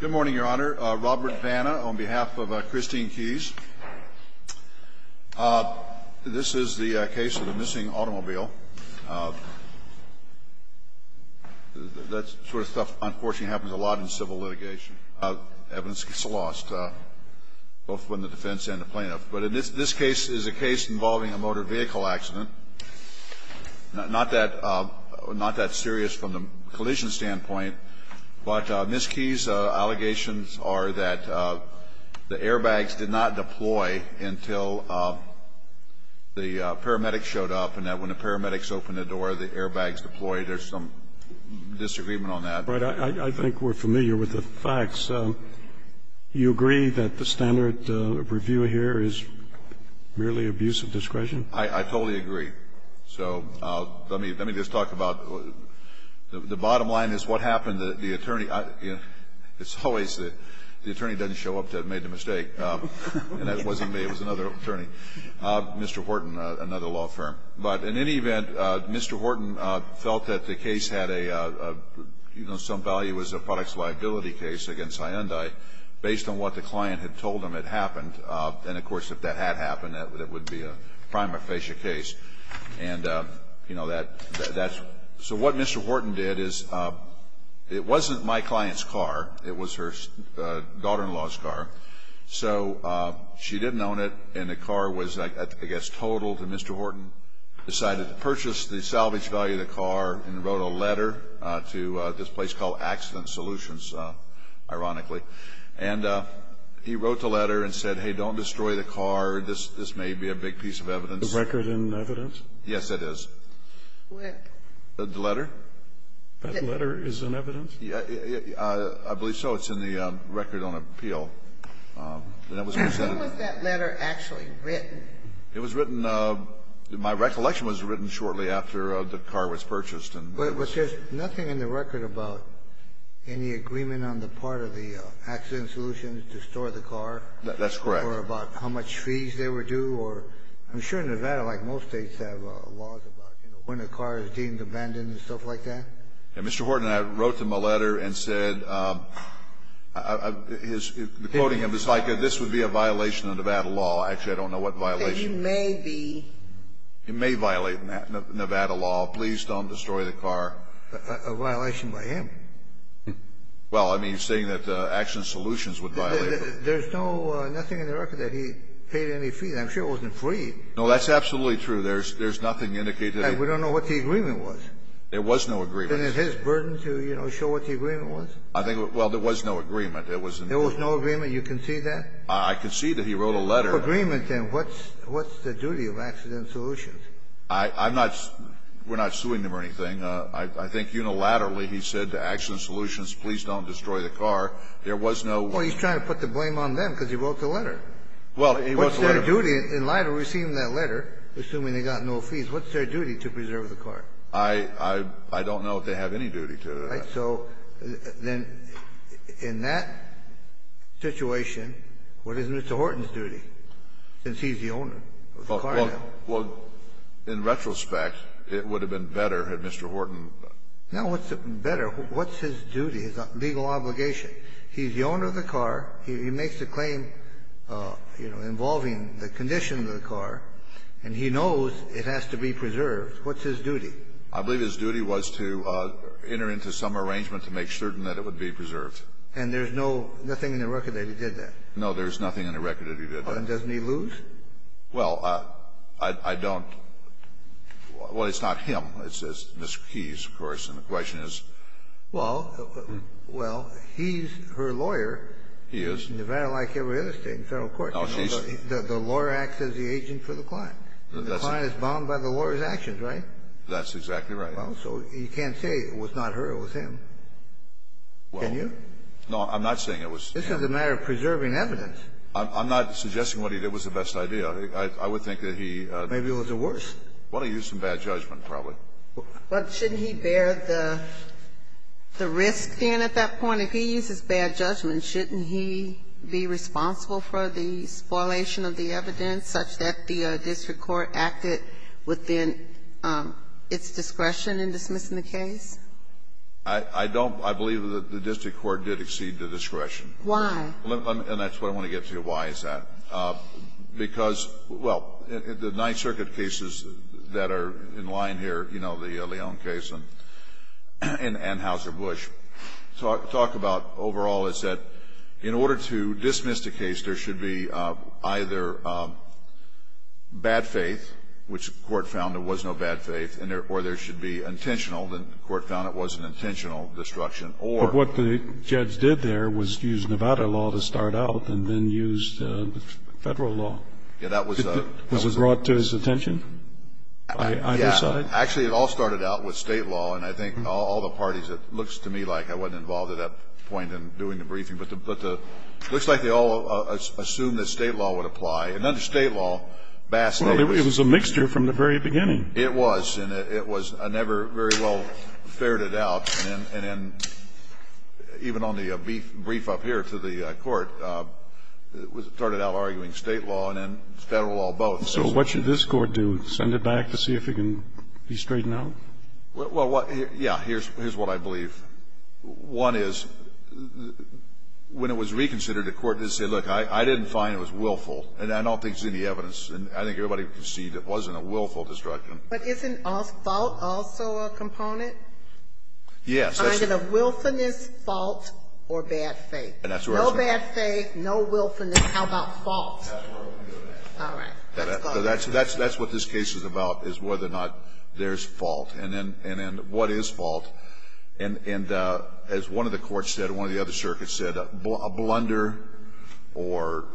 Good morning, Your Honor. Robert Vanna on behalf of Christine Keys. This is the case of a missing automobile. That sort of stuff unfortunately happens a lot in civil litigation. Evidence gets lost, both from the defense and the plaintiff. But this case is a case involving a motor vehicle accident. Not that serious from the collision standpoint. But Ms. Keys' allegations are that the airbags did not deploy until the paramedics showed up. And that when the paramedics opened the door, the airbags deployed. There's some disagreement on that. But I think we're familiar with the facts. You agree that the standard review here is merely abuse of discretion? I totally agree. So let me just talk about the bottom line is what happened to the attorney. It's always the attorney doesn't show up to have made the mistake. And that wasn't me. It was another attorney. Mr. Horton, another law firm. But in any event, Mr. Horton felt that the case had a, you know, some value as a products liability case against Hyundai based on what the client had told him had happened. And, of course, if that had happened, it would be a prima facie case. And, you know, that's so what Mr. Horton did is it wasn't my client's car. It was her daughter-in-law's car. So she didn't own it. And the car was, I guess, totaled. And Mr. Horton decided to purchase the salvage value of the car and wrote a letter to this place called Accident Solutions, ironically. And he wrote the letter and said, hey, don't destroy the car. This may be a big piece of evidence. A record in evidence? Yes, it is. Where? The letter. That letter is in evidence? I believe so. It's in the record on appeal. When was that letter actually written? It was written my recollection was written shortly after the car was purchased. But there's nothing in the record about any agreement on the part of the Accident Solutions to store the car? That's correct. Or about how much fees they were due? I'm sure Nevada, like most states, have laws about, you know, when a car is deemed abandoned and stuff like that. Yeah, Mr. Horton and I wrote them a letter and said, quoting him, it's like this would be a violation of Nevada law. Actually, I don't know what violation. It may be. Nevada law, please don't destroy the car. A violation by him. Well, I mean, saying that Accident Solutions would violate it. There's nothing in the record that he paid any fees. I'm sure it wasn't free. No, that's absolutely true. There's nothing indicated. And we don't know what the agreement was. There was no agreement. And it's his burden to, you know, show what the agreement was? Well, there was no agreement. There was no agreement. You concede that? I concede that he wrote a letter. There was no agreement, then. What's the duty of Accident Solutions? I'm not – we're not suing them or anything. I think unilaterally he said to Accident Solutions, please don't destroy the car. There was no – Well, he's trying to put the blame on them because he wrote the letter. Well, he wrote the letter. What's their duty? In light of receiving that letter, assuming they got no fees, what's their duty to preserve the car? I don't know if they have any duty to that. Right. So then in that situation, what is Mr. Horton's duty, since he's the owner of the car now? Well, in retrospect, it would have been better had Mr. Horton – No, what's better? What's his duty, his legal obligation? He's the owner of the car. He makes a claim, you know, involving the condition of the car, and he knows it has to be preserved. What's his duty? I believe his duty was to enter into some arrangement to make certain that it would be preserved. And there's no – nothing in the record that he did that? No, there's nothing in the record that he did that. And doesn't he lose? Well, I don't – well, it's not him. It's Ms. Keyes, of course, and the question is – Well, he's her lawyer. He is. In Nevada, like every other state in federal court. No, she's – The lawyer acts as the agent for the client. That's – And the client is bound by the lawyer's actions, right? That's exactly right. Well, so you can't say it was not her, it was him. Can you? No, I'm not saying it was him. This is a matter of preserving evidence. I'm not suggesting what he did was the best idea. I would think that he – Maybe it was the worst. Well, he used some bad judgment, probably. But shouldn't he bear the risk, then, at that point? If he uses bad judgment, shouldn't he be responsible for the spoilation of the evidence such that the district court acted within its discretion in dismissing the case? I don't – I believe that the district court did exceed the discretion. Why? And that's what I want to get to, why is that. Because, well, the Ninth Circuit cases that are in line here, you know, the Leon case and Hauser-Busch, talk about overall is that in order to dismiss the case, there should be either bad faith, which the court found there was no bad faith, or there should be intentional, and the court found it was an intentional destruction, or – But what the judge did there was use Nevada law to start out and then use the federal law. Yeah, that was – Was it brought to his attention by either side? Yeah. Actually, it all started out with state law, and I think all the parties – it looks to me like I wasn't involved at that point in doing the briefing. But the – looks like they all assumed that state law would apply. And under state law, Bass – Well, it was a mixture from the very beginning. It was. And it was never very well ferreted out. And then even on the brief up here to the court, it started out arguing state law and then federal law both. So what should this court do? Send it back to see if it can be straightened out? Well, yeah. Here's what I believe. One is, when it was reconsidered, the court didn't say, look, I didn't find it was willful. And I don't think there's any evidence. And I think everybody can see that it wasn't a willful destruction. But isn't fault also a component? Yes. Find it a willfulness, fault, or bad faith? No bad faith, no willfulness. How about fault? All right. Let's go. That's what this case is about, is whether or not there's fault. And then what is fault? And as one of the courts said, one of the other circuits said, a blunder or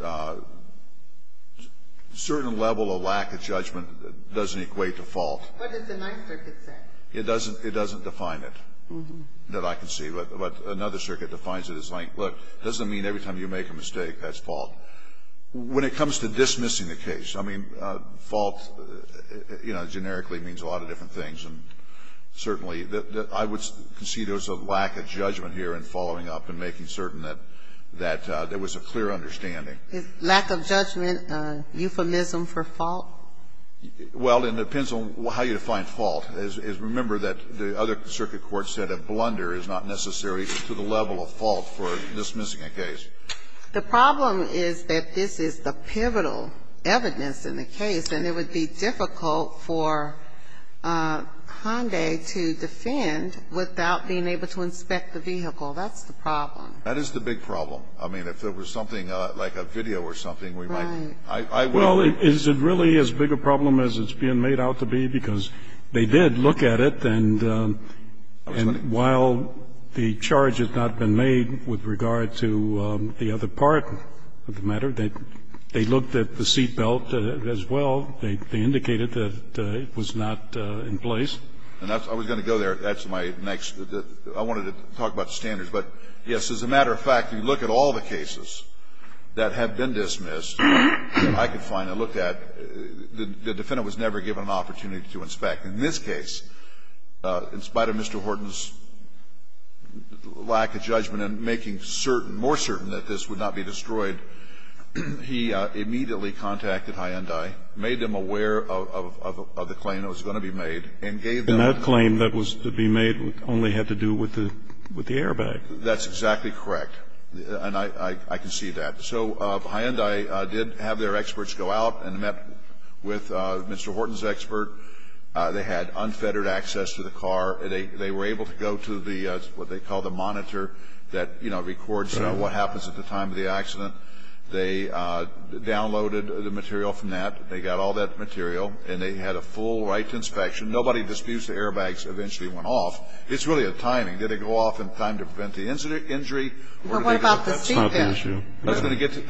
certain level of lack of judgment doesn't equate to fault. What does the Ninth Circuit say? It doesn't define it that I can see. But another circuit defines it as, look, it doesn't mean every time you make a mistake that's fault. When it comes to dismissing the case, I mean, fault generically means a lot of different things. And certainly I would concede there's a lack of judgment here in following up and making certain that there was a clear understanding. Is lack of judgment a euphemism for fault? Well, it depends on how you define fault. Remember that the other circuit court said a blunder is not necessary to the level of fault for dismissing a case. The problem is that this is the pivotal evidence in the case, and it would be difficult for Hyundai to defend without being able to inspect the vehicle. That's the problem. That is the big problem. I mean, if there was something like a video or something, we might be. Right. Well, is it really as big a problem as it's being made out to be? Because they did look at it, and while the charge has not been made with regard to the other part of the matter, they looked at the seat belt as well. They indicated that it was not in place. And I was going to go there. That's my next. I wanted to talk about standards. But, yes, as a matter of fact, if you look at all the cases that have been dismissed, I could find and look at, the defendant was never given an opportunity to inspect. In this case, in spite of Mr. Horton's lack of judgment and making certain, more certain that this would not be destroyed, he immediately contacted Hyundai, made them aware of the claim that was going to be made, and gave them. And that claim that was to be made only had to do with the airbag. That's exactly correct. And I can see that. So Hyundai did have their experts go out and met with Mr. Horton's expert. They had unfettered access to the car. They were able to go to what they call the monitor that, you know, records what happens at the time of the accident. They downloaded the material from that. They got all that material. And they had a full right to inspection. Nobody disputes the airbags eventually went off. It's really a timing. Did it go off in time to prevent the injury? Well, what about the seatbelts? That's not the issue. I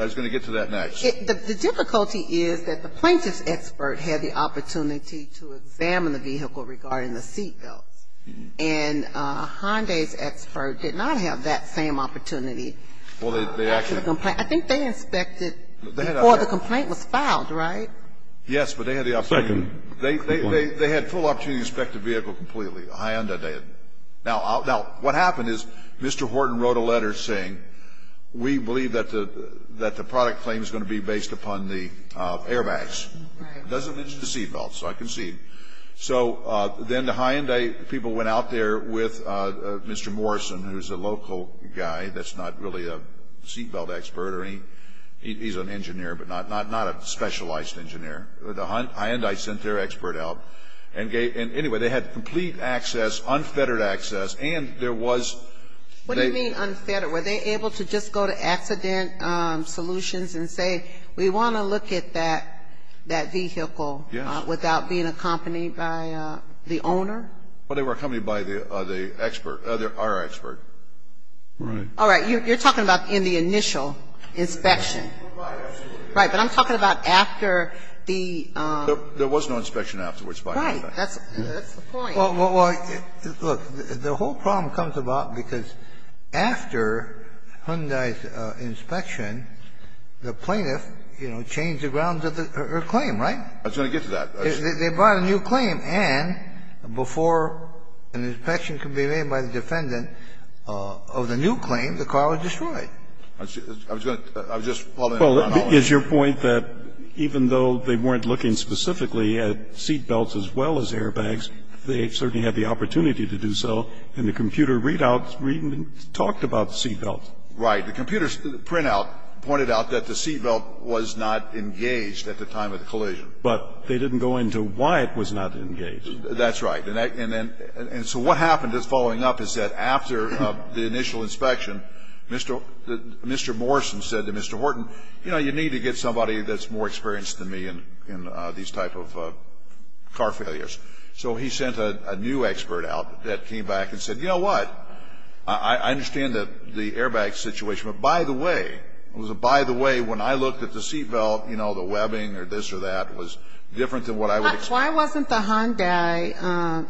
was going to get to that next. The difficulty is that the plaintiff's expert had the opportunity to examine the vehicle regarding the seatbelts. And Hyundai's expert did not have that same opportunity. I think they inspected before the complaint was filed, right? Yes, but they had the opportunity. They had full opportunity to inspect the vehicle completely. Hyundai did. Now, what happened is Mr. Horton wrote a letter saying we believe that the product claim is going to be based upon the airbags. It doesn't mention the seatbelts, so I can see. So then the Hyundai people went out there with Mr. Morrison, who's a local guy that's not really a seatbelt expert. He's an engineer, but not a specialized engineer. Hyundai sent their expert out. Anyway, they had complete access, unfettered access. What do you mean unfettered? Were they able to just go to Accident Solutions and say, we want to look at that vehicle without being accompanied by the owner? Well, they were accompanied by our expert. Right. All right. You're talking about in the initial inspection. Right. But I'm talking about after the ---- There was no inspection afterwards by Hyundai. Right. That's the point. Well, look, the whole problem comes about because after Hyundai's inspection, the plaintiff, you know, changed the grounds of her claim, right? I was going to get to that. They brought a new claim, and before an inspection could be made by the defendant of the new claim, the car was destroyed. I was going to ---- Well, is your point that even though they weren't looking specifically at seatbelts as well as airbags, they certainly had the opportunity to do so, and the computer readouts talked about the seatbelts? Right. The computer printout pointed out that the seatbelt was not engaged at the time of the collision. But they didn't go into why it was not engaged. That's right. And so what happened following up is that after the initial inspection, Mr. Morrison said to Mr. Horton, you know, you need to get somebody that's more experienced than me in these type of car failures. So he sent a new expert out that came back and said, you know what, I understand the airbag situation, but by the way, it was a by the way when I looked at the seatbelt, you know, the webbing or this or that was different than what I would expect. Why wasn't the Hyundai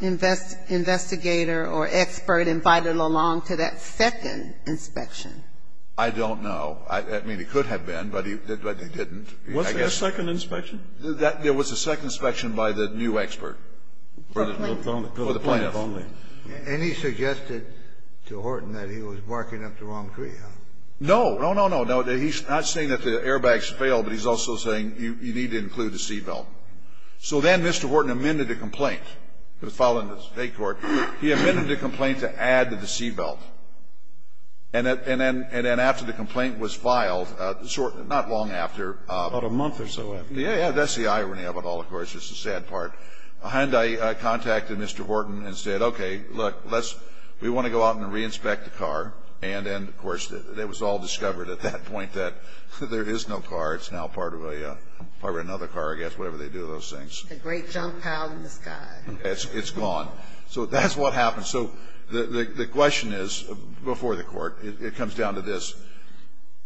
investigator or expert invited along to that second inspection? I don't know. I mean, he could have been, but he didn't. Was there a second inspection? There was a second inspection by the new expert. For the plaintiff. And he suggested to Horton that he was marking up the wrong tree, huh? No. No, he's not saying that the airbags fail, but he's also saying you need to include the seatbelt. So then Mr. Horton amended the complaint. It was filed in the state court. He amended the complaint to add the seatbelt. And then after the complaint was filed, not long after. About a month or so after. Yeah, yeah. That's the irony of it all, of course. It's the sad part. Hyundai contacted Mr. Horton and said, okay, look, we want to go out and reinspect the there is no car. It's now part of another car, I guess, whatever they do, those things. A great junk pile in the sky. It's gone. So that's what happened. So the question is, before the court, it comes down to this.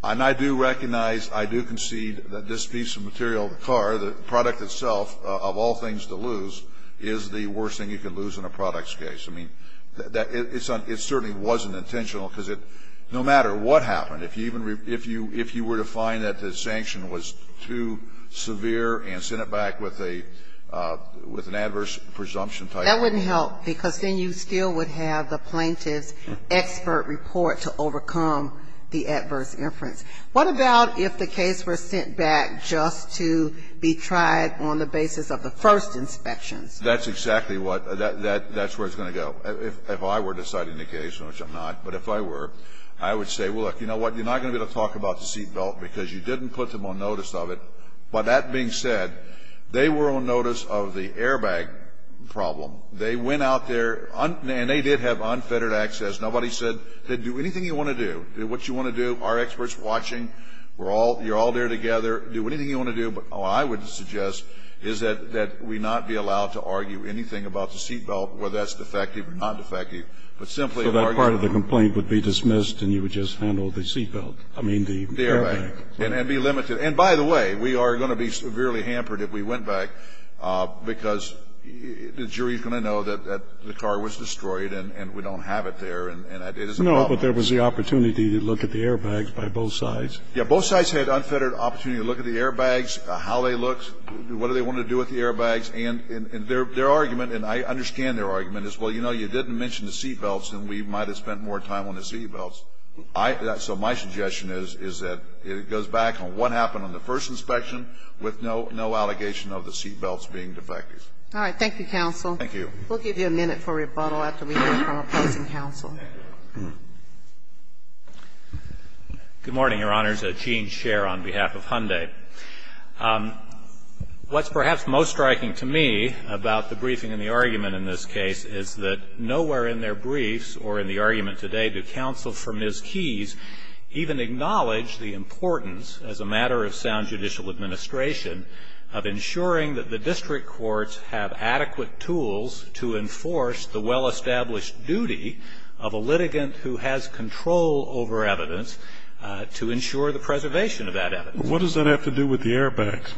And I do recognize, I do concede that this piece of material, the car, the product itself, of all things to lose, is the worst thing you can lose in a product's case. I mean, it certainly wasn't intentional, because no matter what happened, if you were to find that the sanction was too severe and sent it back with an adverse presumption type of thing. That wouldn't help, because then you still would have the plaintiff's expert report to overcome the adverse inference. What about if the case were sent back just to be tried on the basis of the first inspections? That's exactly what, that's where it's going to go. If I were deciding the case, which I'm not, but if I were, I would say, well, look, you know what, you're not going to be able to talk about the seatbelt, because you didn't put them on notice of it. But that being said, they were on notice of the airbag problem. They went out there, and they did have unfettered access. Nobody said, do anything you want to do. Do what you want to do. Our expert's watching. We're all, you're all there together. Do anything you want to do. But what I would suggest is that we not be allowed to argue anything about the seatbelt, whether that's defective or not defective, but simply argue. And the only way you can do that is to have an open complaint. That's what we're going to do. And the part of the complaint would be dismissed and you would just handle the seatbelt. I mean, the airbag. The airbag. And be limited. And, by the way, we are going to be severely hampered if we went back because the jury is going to know that the car was destroyed and we don't have it there, and it is a problem. But there was the opportunity to look at the airbags by both sides. Yeah, both sides had unfettered opportunity to look at the airbags, how they looked, what do they want to do with the airbags. And their argument, and I understand their argument, is, well, you know, you didn't mention the seatbelts and we might have spent more time on the seatbelts. So my suggestion is that it goes back on what happened on the first inspection with no allegation of the seatbelts being defective. All right. Thank you, counsel. Thank you. We'll give you a minute for rebuttal after we hear from opposing counsel. Good morning, Your Honors. Gene Scherr on behalf of Hyundai. What's perhaps most striking to me about the briefing and the argument in this case is that nowhere in their briefs or in the argument today do counsel for Ms. Keys even acknowledge the importance, as a matter of sound judicial administration, of ensuring that the district courts have adequate tools to enforce the well-established duty of a litigant who has control over evidence to ensure the preservation of that evidence. What does that have to do with the airbags?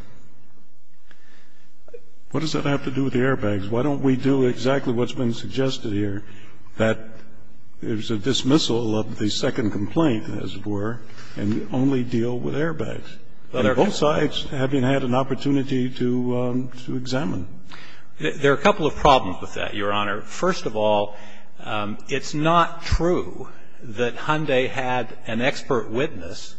What does that have to do with the airbags? Why don't we do exactly what's been suggested here, that there's a dismissal of the second complaint, as it were, and only deal with airbags? And both sides having had an opportunity to examine. There are a couple of problems with that, Your Honor. First of all, it's not true that Hyundai had an expert witness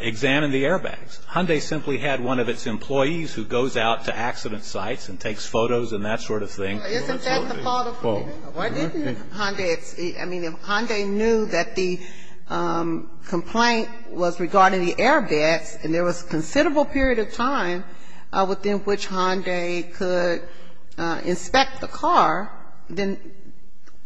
examine the airbags. Hyundai simply had one of its employees who goes out to accident sites and takes photos and that sort of thing. Isn't that the fault of Hyundai? Why didn't Hyundai see? I mean, if Hyundai knew that the complaint was regarding the airbags and there was a considerable period of time within which Hyundai could inspect the car, then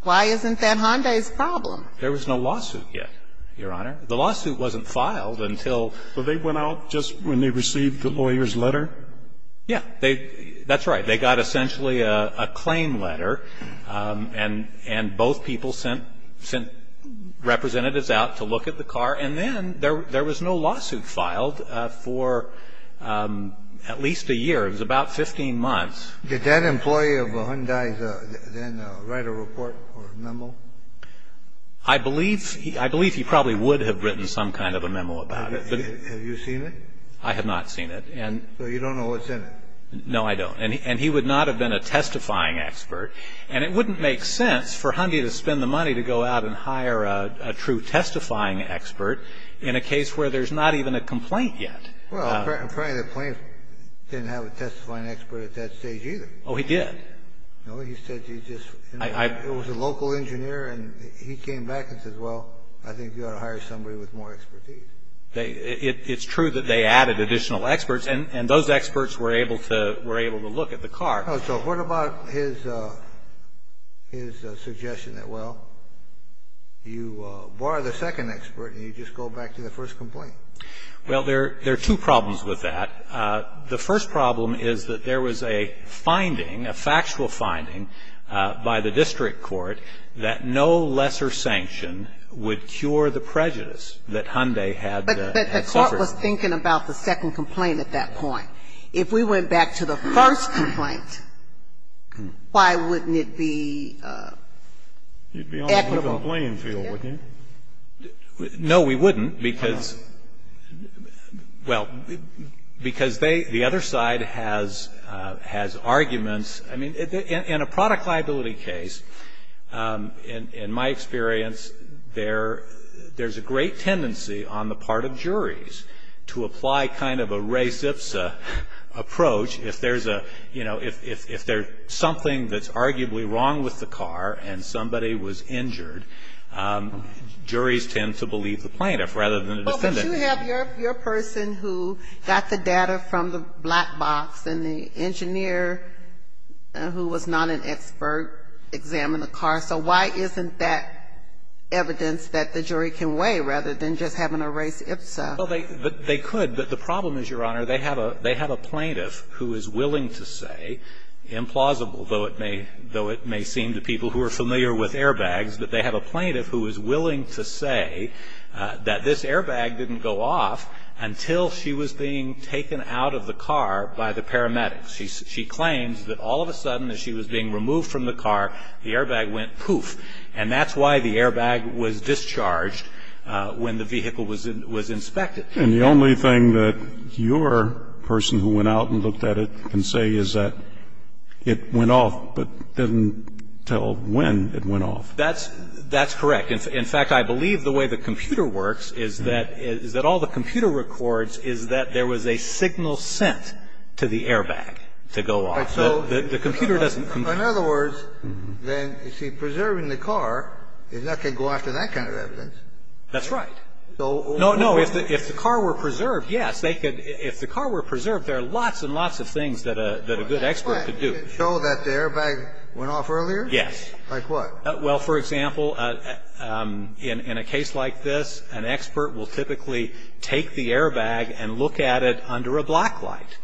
why isn't that Hyundai's problem? There was no lawsuit yet, Your Honor. The lawsuit wasn't filed until they went out just when they received the lawyer's letter. That's right. They got essentially a claim letter, and both people sent representatives out to look at the car. And then there was no lawsuit filed for at least a year. It was about 15 months. Did that employee of Hyundai then write a report or a memo? I believe he probably would have written some kind of a memo about it. Have you seen it? I have not seen it. So you don't know what's in it? No, I don't. And he would not have been a testifying expert. And it wouldn't make sense for Hyundai to spend the money to go out and hire a true testifying expert in a case where there's not even a complaint yet. Well, apparently the plaintiff didn't have a testifying expert at that stage either. Oh, he did. No, he said he just was a local engineer, and he came back and said, well, I think you ought to hire somebody with more expertise. It's true that they added additional experts, and those experts were able to look at the car. So what about his suggestion that, well, you bar the second expert and you just go back to the first complaint? Well, there are two problems with that. The first problem is that there was a finding, a factual finding, by the district court, that no lesser sanction would cure the prejudice that Hyundai had suffered. But the court was thinking about the second complaint at that point. If we went back to the first complaint, why wouldn't it be equitable? You'd be on a different playing field, wouldn't you? No, we wouldn't, because, well, because the other side has arguments. I mean, in a product liability case, in my experience, there's a great tendency on the part of juries to apply kind of a res ipsa approach. If there's a, you know, if there's something that's arguably wrong with the car and somebody was injured, juries tend to believe the plaintiff rather than the defendant. But you have your person who got the data from the black box, and the engineer who was not an expert examined the car. So why isn't that evidence that the jury can weigh rather than just having a res ipsa? Well, they could. But the problem is, Your Honor, they have a plaintiff who is willing to say, implausible, though it may seem to people who are familiar with airbags, that they have a plaintiff who is willing to say that this airbag didn't go off until she was being taken out of the car by the paramedics. She claims that all of a sudden, as she was being removed from the car, the airbag went poof. And that's why the airbag was discharged when the vehicle was inspected. And the only thing that your person who went out and looked at it can say is that it went off, but didn't tell when it went off. That's correct. In fact, I believe the way the computer works is that all the computer records is that there was a signal sent to the airbag to go off. The computer doesn't come back. In other words, then, you see, preserving the car is not going to go after that kind of evidence. That's right. No, no. If the car were preserved, yes, they could. If the car were preserved, there are lots and lots of things that a good expert could do. So that the airbag went off earlier? Like what? Well, for example, in a case like this, an expert will typically take the airbag and look at it under a blacklight.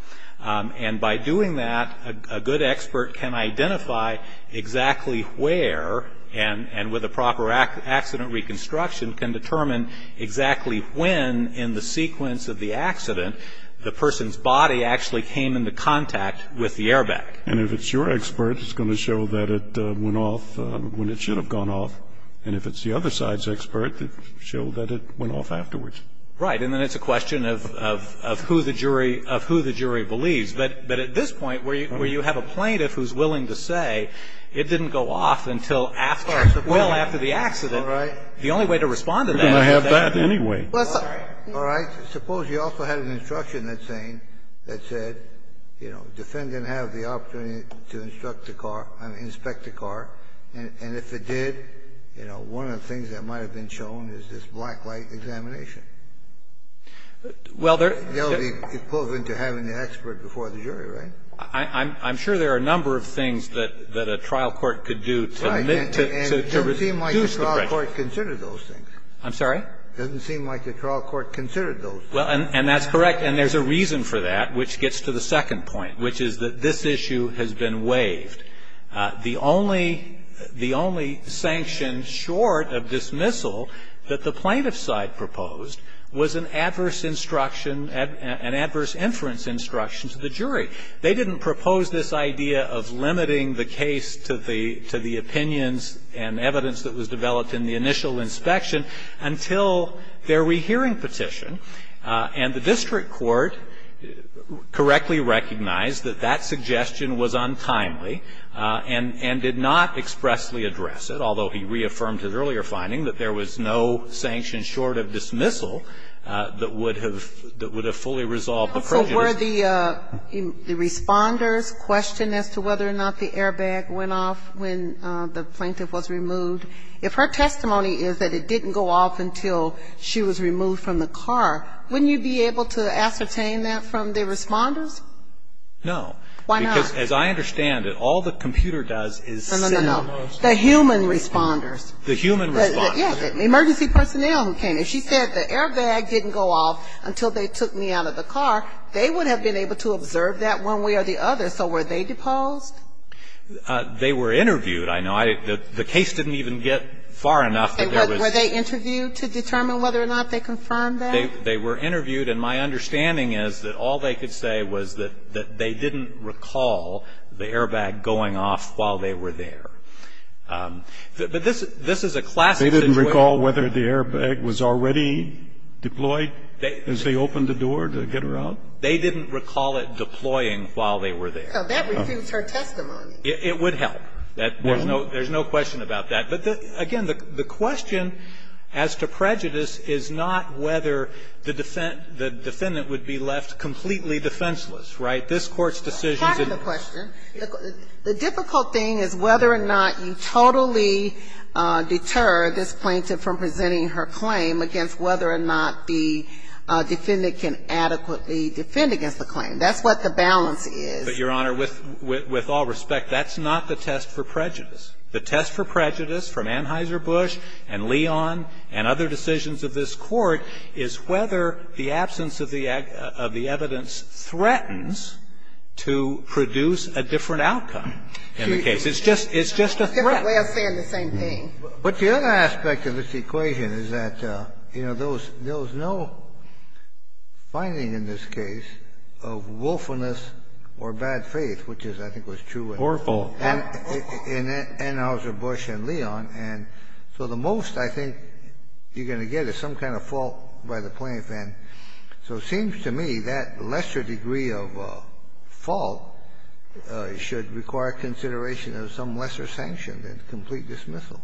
And by doing that, a good expert can identify exactly where, and with a proper accident reconstruction, can determine exactly when in the sequence of the accident the person's body actually came into contact with the airbag. And if it's your expert, it's going to show that it went off when it should have gone off. And if it's the other side's expert, it'll show that it went off afterwards. Right. And then it's a question of who the jury believes. But at this point, where you have a plaintiff who's willing to say it didn't go off until after the accident, the only way to respond to that is to say... You're going to have that anyway. All right. Suppose you also had an instruction that's saying, that said, you know, defendant has the opportunity to instruct the car, I mean inspect the car, and if it did, you know, one of the things that might have been shown is this blacklight examination. Well, there's... That would be equivalent to having the expert before the jury, right? I'm sure there are a number of things that a trial court could do to reduce the pressure. Right. And it doesn't seem like the trial court considered those things. I'm sorry? It doesn't seem like the trial court considered those things. Well, and that's correct. And there's a reason for that, which gets to the second point, which is that this issue has been waived. The only the only sanction short of dismissal that the plaintiff's side proposed was an adverse instruction, an adverse inference instruction to the jury. They didn't propose this idea of limiting the case to the opinions and evidence that was developed in the initial inspection until their rehearing petition. And the district court correctly recognized that that suggestion was untimely and did not expressly address it, although he reaffirmed his earlier finding that there was no sanction short of dismissal that would have fully resolved the prejudice. If it were the Responders' question as to whether or not the airbag went off when the plaintiff was removed, if her testimony is that it didn't go off until she was removed from the car, wouldn't you be able to ascertain that from the Responders? No. Why not? Because, as I understand it, all the computer does is signal those. No, no, no. The human Responders. The human Responders. The emergency personnel who came in. And if she said the airbag didn't go off until they took me out of the car, they would have been able to observe that one way or the other. So were they deposed? They were interviewed. I know the case didn't even get far enough that there was. Were they interviewed to determine whether or not they confirmed that? They were interviewed. And my understanding is that all they could say was that they didn't recall the airbag going off while they were there. But this is a classic situation. They didn't recall whether the airbag was already deployed as they opened the door to get her out? They didn't recall it deploying while they were there. So that refutes her testimony. It would help. There's no question about that. But, again, the question as to prejudice is not whether the defendant would be left completely defenseless, right? This Court's decision is a defenseless case. And so the question is whether or not the defendant can adequately defend against the claim. That's what the balance is. But, Your Honor, with all respect, that's not the test for prejudice. The test for prejudice from Anheuser-Busch and Leon and other decisions of this Court is whether the absence of the evidence threatens to produce a different outcome in the case. It's just a threat. It's a different way of saying the same thing. But the other aspect of this equation is that, you know, there was no finding in this case of willfulness or bad faith, which I think was true in Anheuser-Busch and Leon. And so the most, I think, you're going to get is some kind of fault by the plaintiff. And so it seems to me that lesser degree of fault should require consideration of some lesser sanction than complete dismissal.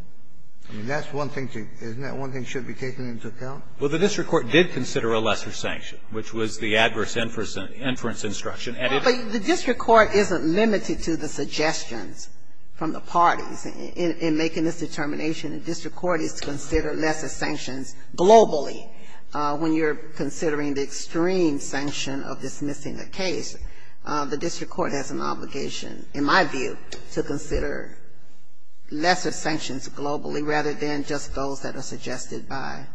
I mean, that's one thing to be taken into account. Well, the district court did consider a lesser sanction, which was the adverse inference instruction. But the district court isn't limited to the suggestions from the parties in making this determination. The district court is to consider lesser sanctions globally. When you're considering the extreme sanction of dismissing a case, the district court has an obligation, in my view, to consider lesser sanctions globally rather than just those that are suggested by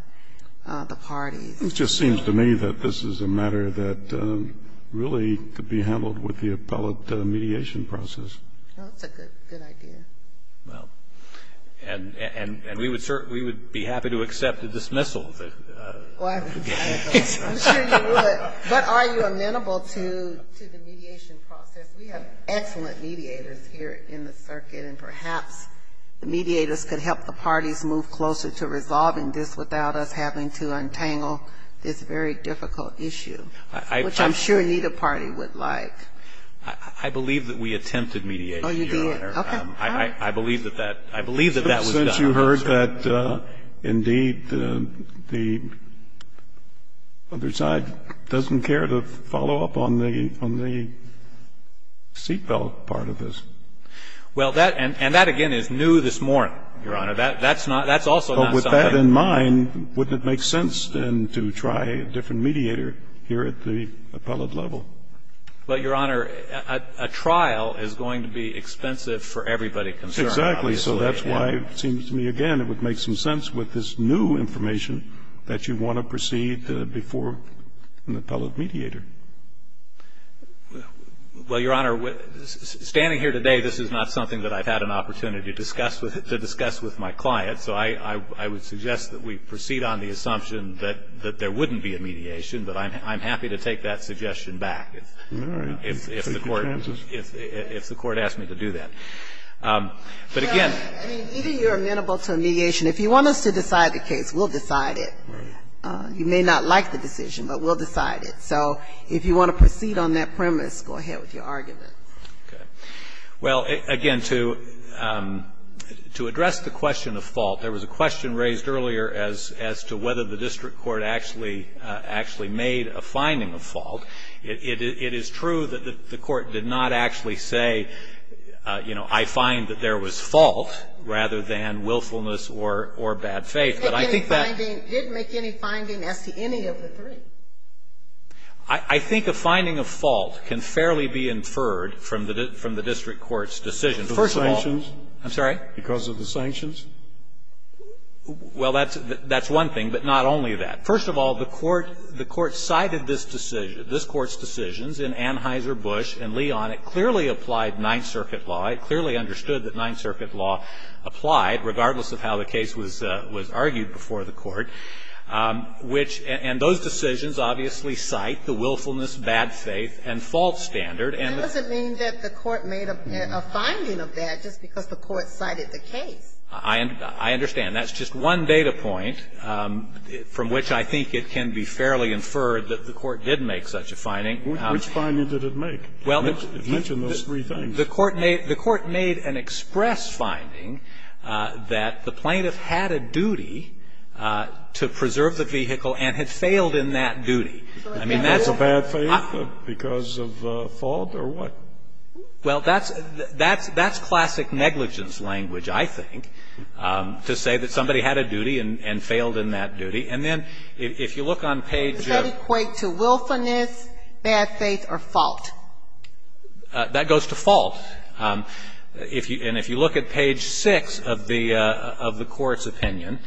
the parties. It just seems to me that this is a matter that really could be handled with the appellate mediation process. That's a good idea. Well, and we would be happy to accept a dismissal. I'm sure you would. But are you amenable to the mediation process? We have excellent mediators here in the circuit, and perhaps the mediators could help the parties move closer to resolving this without us having to untangle this very difficult issue, which I'm sure neither party would like. I believe that we attempted mediation. Oh, you did? I believe that that was done. It appears that, indeed, the other side doesn't care to follow up on the seatbelt part of this. Well, and that, again, is new this morning, Your Honor. That's also not something new. But with that in mind, wouldn't it make sense then to try a different mediator here at the appellate level? Well, Your Honor, a trial is going to be expensive for everybody concerned, obviously. Exactly. So that's why it seems to me, again, it would make some sense with this new information that you want to proceed before an appellate mediator. Well, Your Honor, standing here today, this is not something that I've had an opportunity to discuss with my client. So I would suggest that we proceed on the assumption that there wouldn't be a mediation. But I'm happy to take that suggestion back if the Court asks me to do that. But, again. I mean, either you're amenable to a mediation. If you want us to decide the case, we'll decide it. Right. You may not like the decision, but we'll decide it. So if you want to proceed on that premise, go ahead with your argument. Okay. Well, again, to address the question of fault, there was a question raised earlier as to whether the district court actually made a finding of fault. It is true that the Court did not actually say, you know, I find that there was fault rather than willfulness or bad faith. But I think that ---- It didn't make any finding as to any of the three. I think a finding of fault can fairly be inferred from the district court's decision. First of all ---- Because of the sanctions? I'm sorry? Because of the sanctions? Well, that's one thing, but not only that. First of all, the Court cited this decision. This Court's decisions in Anheuser-Busch and Leon, it clearly applied Ninth Circuit law. It clearly understood that Ninth Circuit law applied, regardless of how the case was argued before the Court, which ---- and those decisions obviously cite the willfulness, bad faith and fault standard. That doesn't mean that the Court made a finding of that just because the Court cited the case. I understand. That's just one data point from which I think it can be fairly inferred that the Court did make such a finding. Which finding did it make? It mentioned those three things. Well, the Court made an express finding that the plaintiff had a duty to preserve the vehicle and had failed in that duty. I mean, that's a bad faith because of fault or what? Well, that's classic negligence language, I think, to say that somebody had a duty and failed in that duty. And then if you look on page ---- Does that equate to willfulness, bad faith or fault? That goes to fault. And if you look at page 6 of the Court's opinion,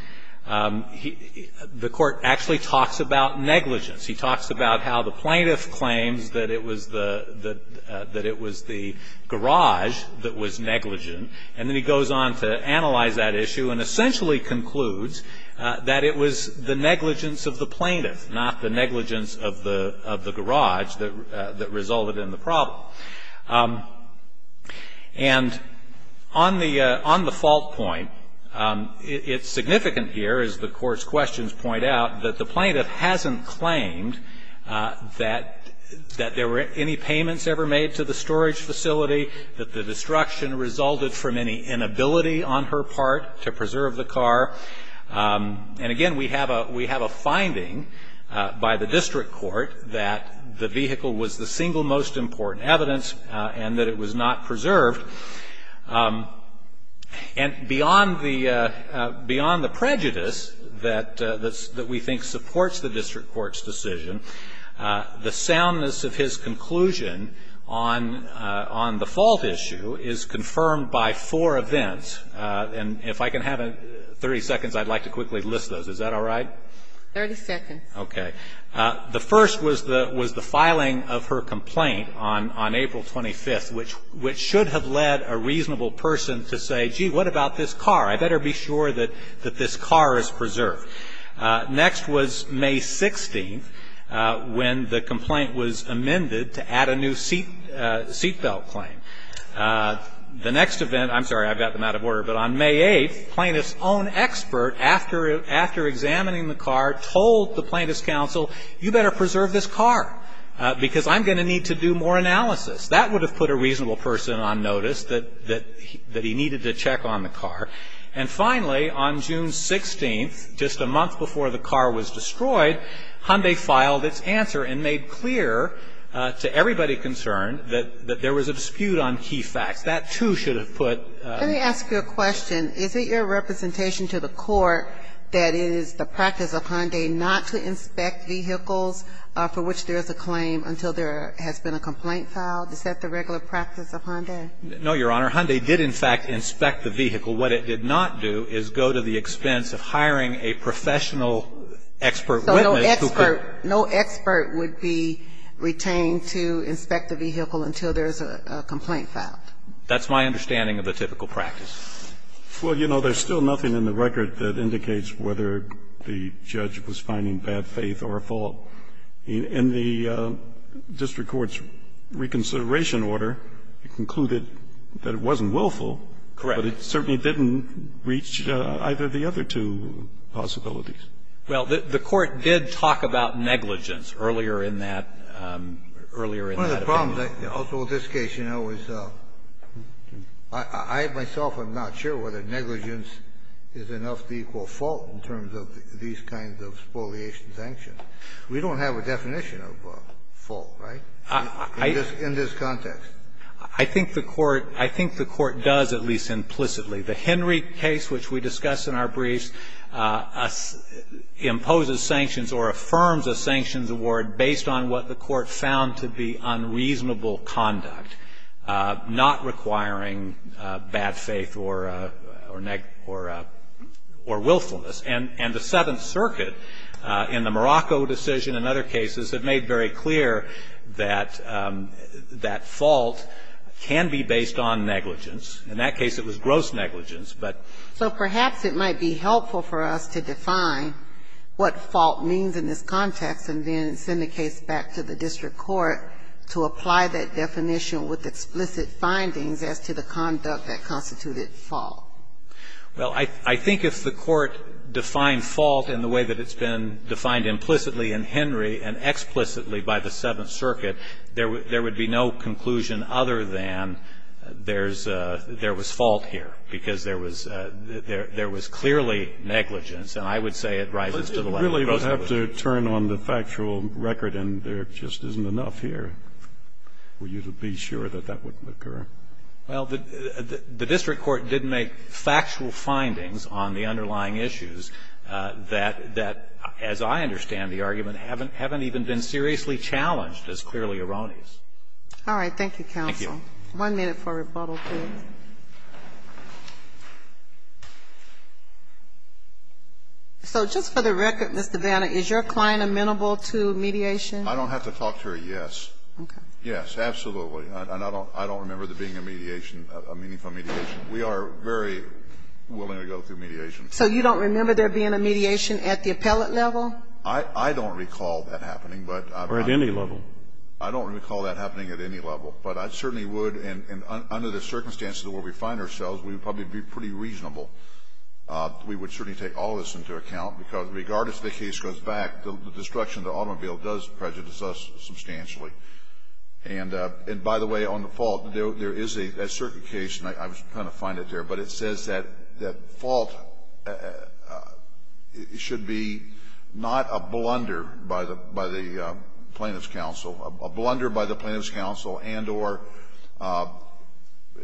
the Court actually talks about negligence. He talks about how the plaintiff claims that it was the garage that was negligent, and then he goes on to analyze that issue and essentially concludes that it was the negligence of the plaintiff, not the negligence of the garage, that resulted in the problem. And on the fault point, it's significant here, as the Court's questions point out, that the plaintiff hasn't claimed that there were any payments ever made to the storage facility, that the destruction resulted from any inability on her part to preserve the car. And again, we have a finding by the district court that the vehicle was the single And beyond the prejudice that we think supports the district court's decision, the soundness of his conclusion on the fault issue is confirmed by four events. And if I can have 30 seconds, I'd like to quickly list those. Is that all right? 30 seconds. Okay. The first was the filing of her complaint on April 25th, which should have led a reasonable person to say, gee, what about this car? I better be sure that this car is preserved. Next was May 16th, when the complaint was amended to add a new seat belt claim. The next event, I'm sorry, I've got them out of order, but on May 8th, the plaintiff's own expert, after examining the car, told the plaintiff's counsel, you better preserve this car, because I'm going to need to do more analysis. That would have put a reasonable person on notice that he needed to check on the car. And finally, on June 16th, just a month before the car was destroyed, Hyundai filed its answer and made clear to everybody concerned that there was a dispute on key facts. That, too, should have put Let me ask you a question. Is it your representation to the court that it is the practice of Hyundai not to inspect vehicles for which there is a claim until there has been a complaint filed? Is that the regular practice of Hyundai? No, Your Honor. Hyundai did, in fact, inspect the vehicle. What it did not do is go to the expense of hiring a professional expert witness who could So no expert would be retained to inspect the vehicle until there is a complaint filed? That's my understanding of the typical practice. Well, you know, there's still nothing in the record that indicates whether the judge was finding bad faith or a fault. In the district court's reconsideration order, it concluded that it wasn't willful. Correct. But it certainly didn't reach either of the other two possibilities. Well, the court did talk about negligence earlier in that opinion. One of the problems also with this case, you know, is I myself am not sure whether negligence is enough to equal fault in terms of these kinds of spoliation sanctions. We don't have a definition of fault, right, in this context. I think the court does, at least implicitly. The Henry case, which we discussed in our briefs, imposes sanctions or affirms a sanctions award based on what the court found to be unreasonable conduct, not requiring bad faith or willfulness. And the Seventh Circuit in the Morocco decision and other cases have made very clear that fault can be based on negligence. In that case, it was gross negligence. So perhaps it might be helpful for us to define what fault means in this context and then send the case back to the district court to apply that definition with explicit findings as to the conduct that constituted fault. Well, I think if the court defined fault in the way that it's been defined implicitly in Henry and explicitly by the Seventh Circuit, there would be no conclusion other than there was fault here, because there was clearly negligence, and I would say it rises to the level of gross negligence. But you really would have to turn on the factual record, and there just isn't enough here for you to be sure that that wouldn't occur. Well, the district court did make factual findings on the underlying issues that, as I understand the argument, haven't even been seriously challenged as clearly All right. Thank you, counsel. Thank you. One minute for rebuttal, please. So just for the record, Mr. Vanna, is your client amenable to mediation? I don't have to talk to her, yes. Okay. Yes, absolutely. And I don't remember there being a mediation, a meaningful mediation. We are very willing to go through mediation. So you don't remember there being a mediation at the appellate level? I don't recall that happening, but I've had it. Or at any level. I don't recall that happening at any level. But I certainly would, and under the circumstances where we find ourselves, we would probably be pretty reasonable. We would certainly take all of this into account, because regardless if the case goes back, the destruction of the automobile does prejudice us substantially. And, by the way, on the fault, there is a certain case, and I was trying to find it there, but it says that fault should be not a blunder by the plaintiff's counsel, a blunder by the plaintiff's counsel, and or.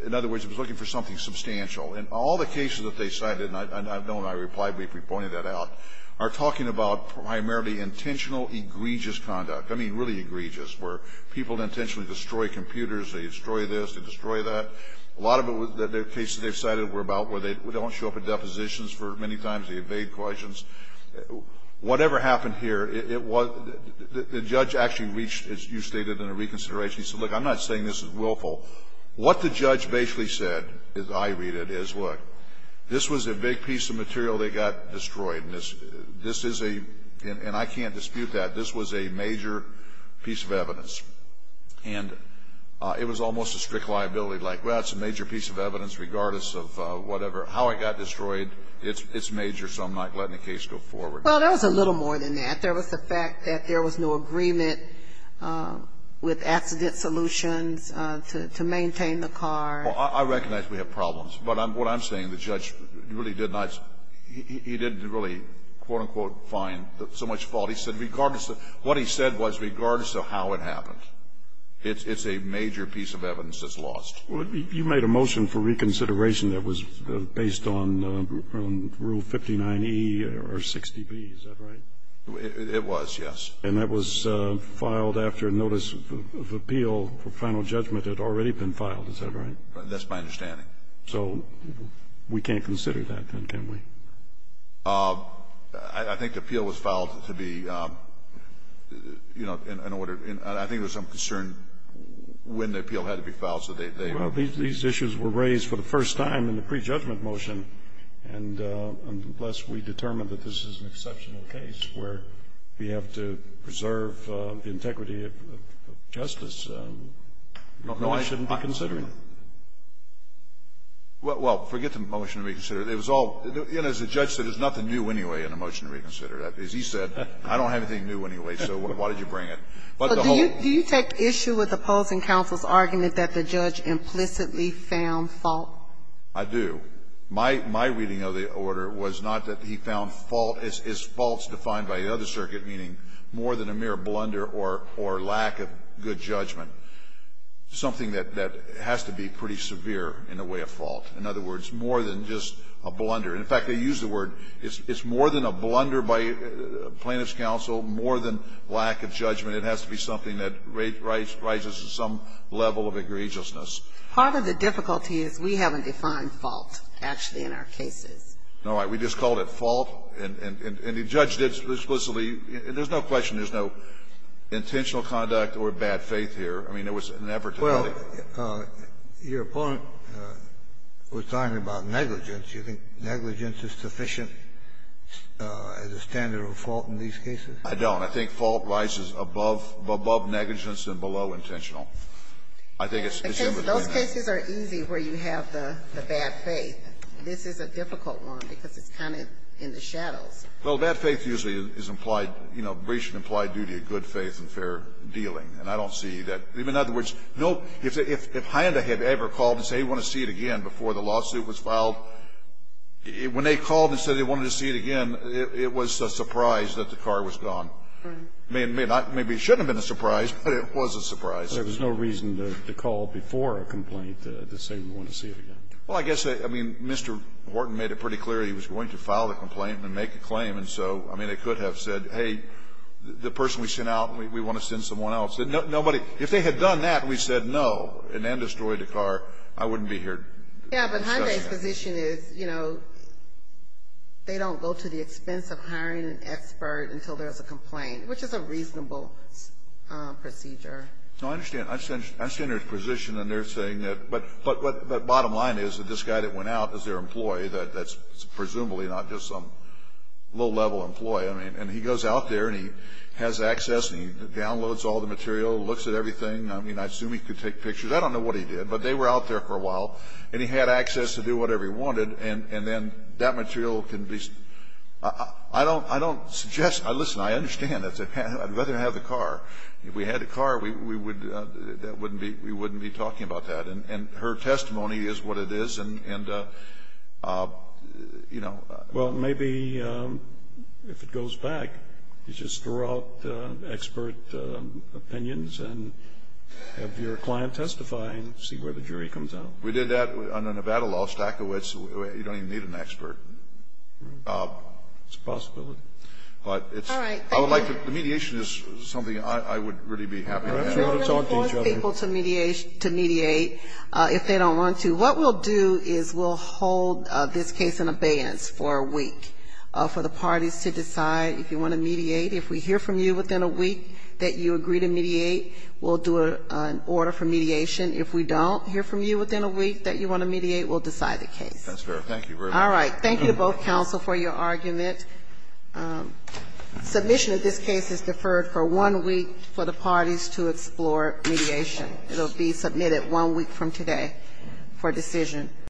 In other words, it was looking for something substantial. And all the cases that they cited, and Bill and I replied briefly, pointed that out, are talking about primarily intentional egregious conduct. I mean, really egregious, where people intentionally destroy computers, they destroy this, they destroy that. A lot of the cases they've cited were about where they don't show up at depositions for many times, they evade questions. Whatever happened here, it was the judge actually reached, as you stated, in a reconsideration. He said, look, I'm not saying this is willful. What the judge basically said, as I read it, is, look, this was a big piece of material that got destroyed, and this is a – and I can't dispute that. This was a major piece of evidence. And it was almost a strict liability, like, well, it's a major piece of evidence regardless of whatever. How it got destroyed, it's major, so I'm not letting the case go forward. Well, there was a little more than that. There was the fact that there was no agreement with accident solutions to maintain the car. Well, I recognize we have problems. But what I'm saying, the judge really did not – he didn't really, quote, unquote, find so much fault. He said regardless – what he said was regardless of how it happened, it's a major piece of evidence that's lost. Well, you made a motion for reconsideration that was based on Rule 59e or 60b. Is that right? It was, yes. And that was filed after notice of appeal for final judgment had already been filed. Is that right? That's my understanding. So we can't consider that, then, can we? I think the appeal was filed to be, you know, in order – I think there was some These issues were raised for the first time in the prejudgment motion, and unless we determine that this is an exceptional case where we have to preserve the integrity of justice, we shouldn't be considering it. Well, forget the motion to reconsider. It was all – you know, as the judge said, there's nothing new anyway in the motion to reconsider. As he said, I don't have anything new anyway, so why did you bring it? But the whole – But do you take issue with opposing counsel's argument that the judge implicitly found fault? I do. My reading of the order was not that he found fault. It's faults defined by the other circuit, meaning more than a mere blunder or lack of good judgment. Something that has to be pretty severe in the way of fault. In other words, more than just a blunder. In fact, they use the word – it's more than a blunder by plaintiff's counsel, more than lack of judgment. It has to be something that rises to some level of egregiousness. Part of the difficulty is we haven't defined fault, actually, in our cases. All right. We just called it fault, and the judge did explicitly – there's no question there's no intentional conduct or bad faith here. I mean, it was an effort to get it. Well, your opponent was talking about negligence. Do you think negligence is sufficient as a standard of fault in these cases? I don't. I think fault rises above negligence and below intentional. I think it's in the defendant. Those cases are easy where you have the bad faith. This is a difficult one because it's kind of in the shadows. Well, bad faith usually is implied, you know, breach of implied duty of good faith and fair dealing, and I don't see that. In other words, no – if Hynda had ever called and said, hey, we want to see it again before the lawsuit was filed, when they called and said they wanted to see it again, it was a surprise that the car was gone. Right. Maybe it shouldn't have been a surprise, but it was a surprise. There was no reason to call before a complaint to say we want to see it again. Well, I guess, I mean, Mr. Wharton made it pretty clear he was going to file the complaint and make a claim, and so, I mean, it could have said, hey, the person we sent out, we want to send someone else. Nobody – if they had done that and we said no and then destroyed the car, I wouldn't be here discussing that. Yeah, but Hynda's position is, you know, they don't go to the expense of hiring an expert until there's a complaint, which is a reasonable procedure. No, I understand. I understand her position, and they're saying that – but bottom line is that this guy that went out is their employee. That's presumably not just some low-level employee. I mean, and he goes out there, and he has access, and he downloads all the material, looks at everything. I mean, I assume he could take pictures. I don't know what he did, but they were out there for a while, and he had access to do whatever he wanted, and then that material can be – I don't suggest – listen, I understand. I'd rather have the car. If we had the car, we wouldn't be talking about that. And her testimony is what it is, and, you know. Well, maybe if it goes back, you just throw out expert opinions and have your client testify and see where the jury comes out. We did that under Nevada law, Stachowicz. You don't even need an expert. It's a possibility. But it's – All right. Thank you. I would like to – mediation is something I would really be happy to have. Perhaps we ought to talk to each other. We don't force people to mediate if they don't want to. What we'll do is we'll hold this case in abeyance for a week for the parties to decide if you want to mediate. If we hear from you within a week that you agree to mediate, we'll do an order for mediation. If we don't hear from you within a week that you want to mediate, we'll decide the case. That's fair. Thank you very much. All right. Thank you to both counsel for your argument. Submission of this case is deferred for one week for the parties to explore mediation. It will be submitted one week from today for decision.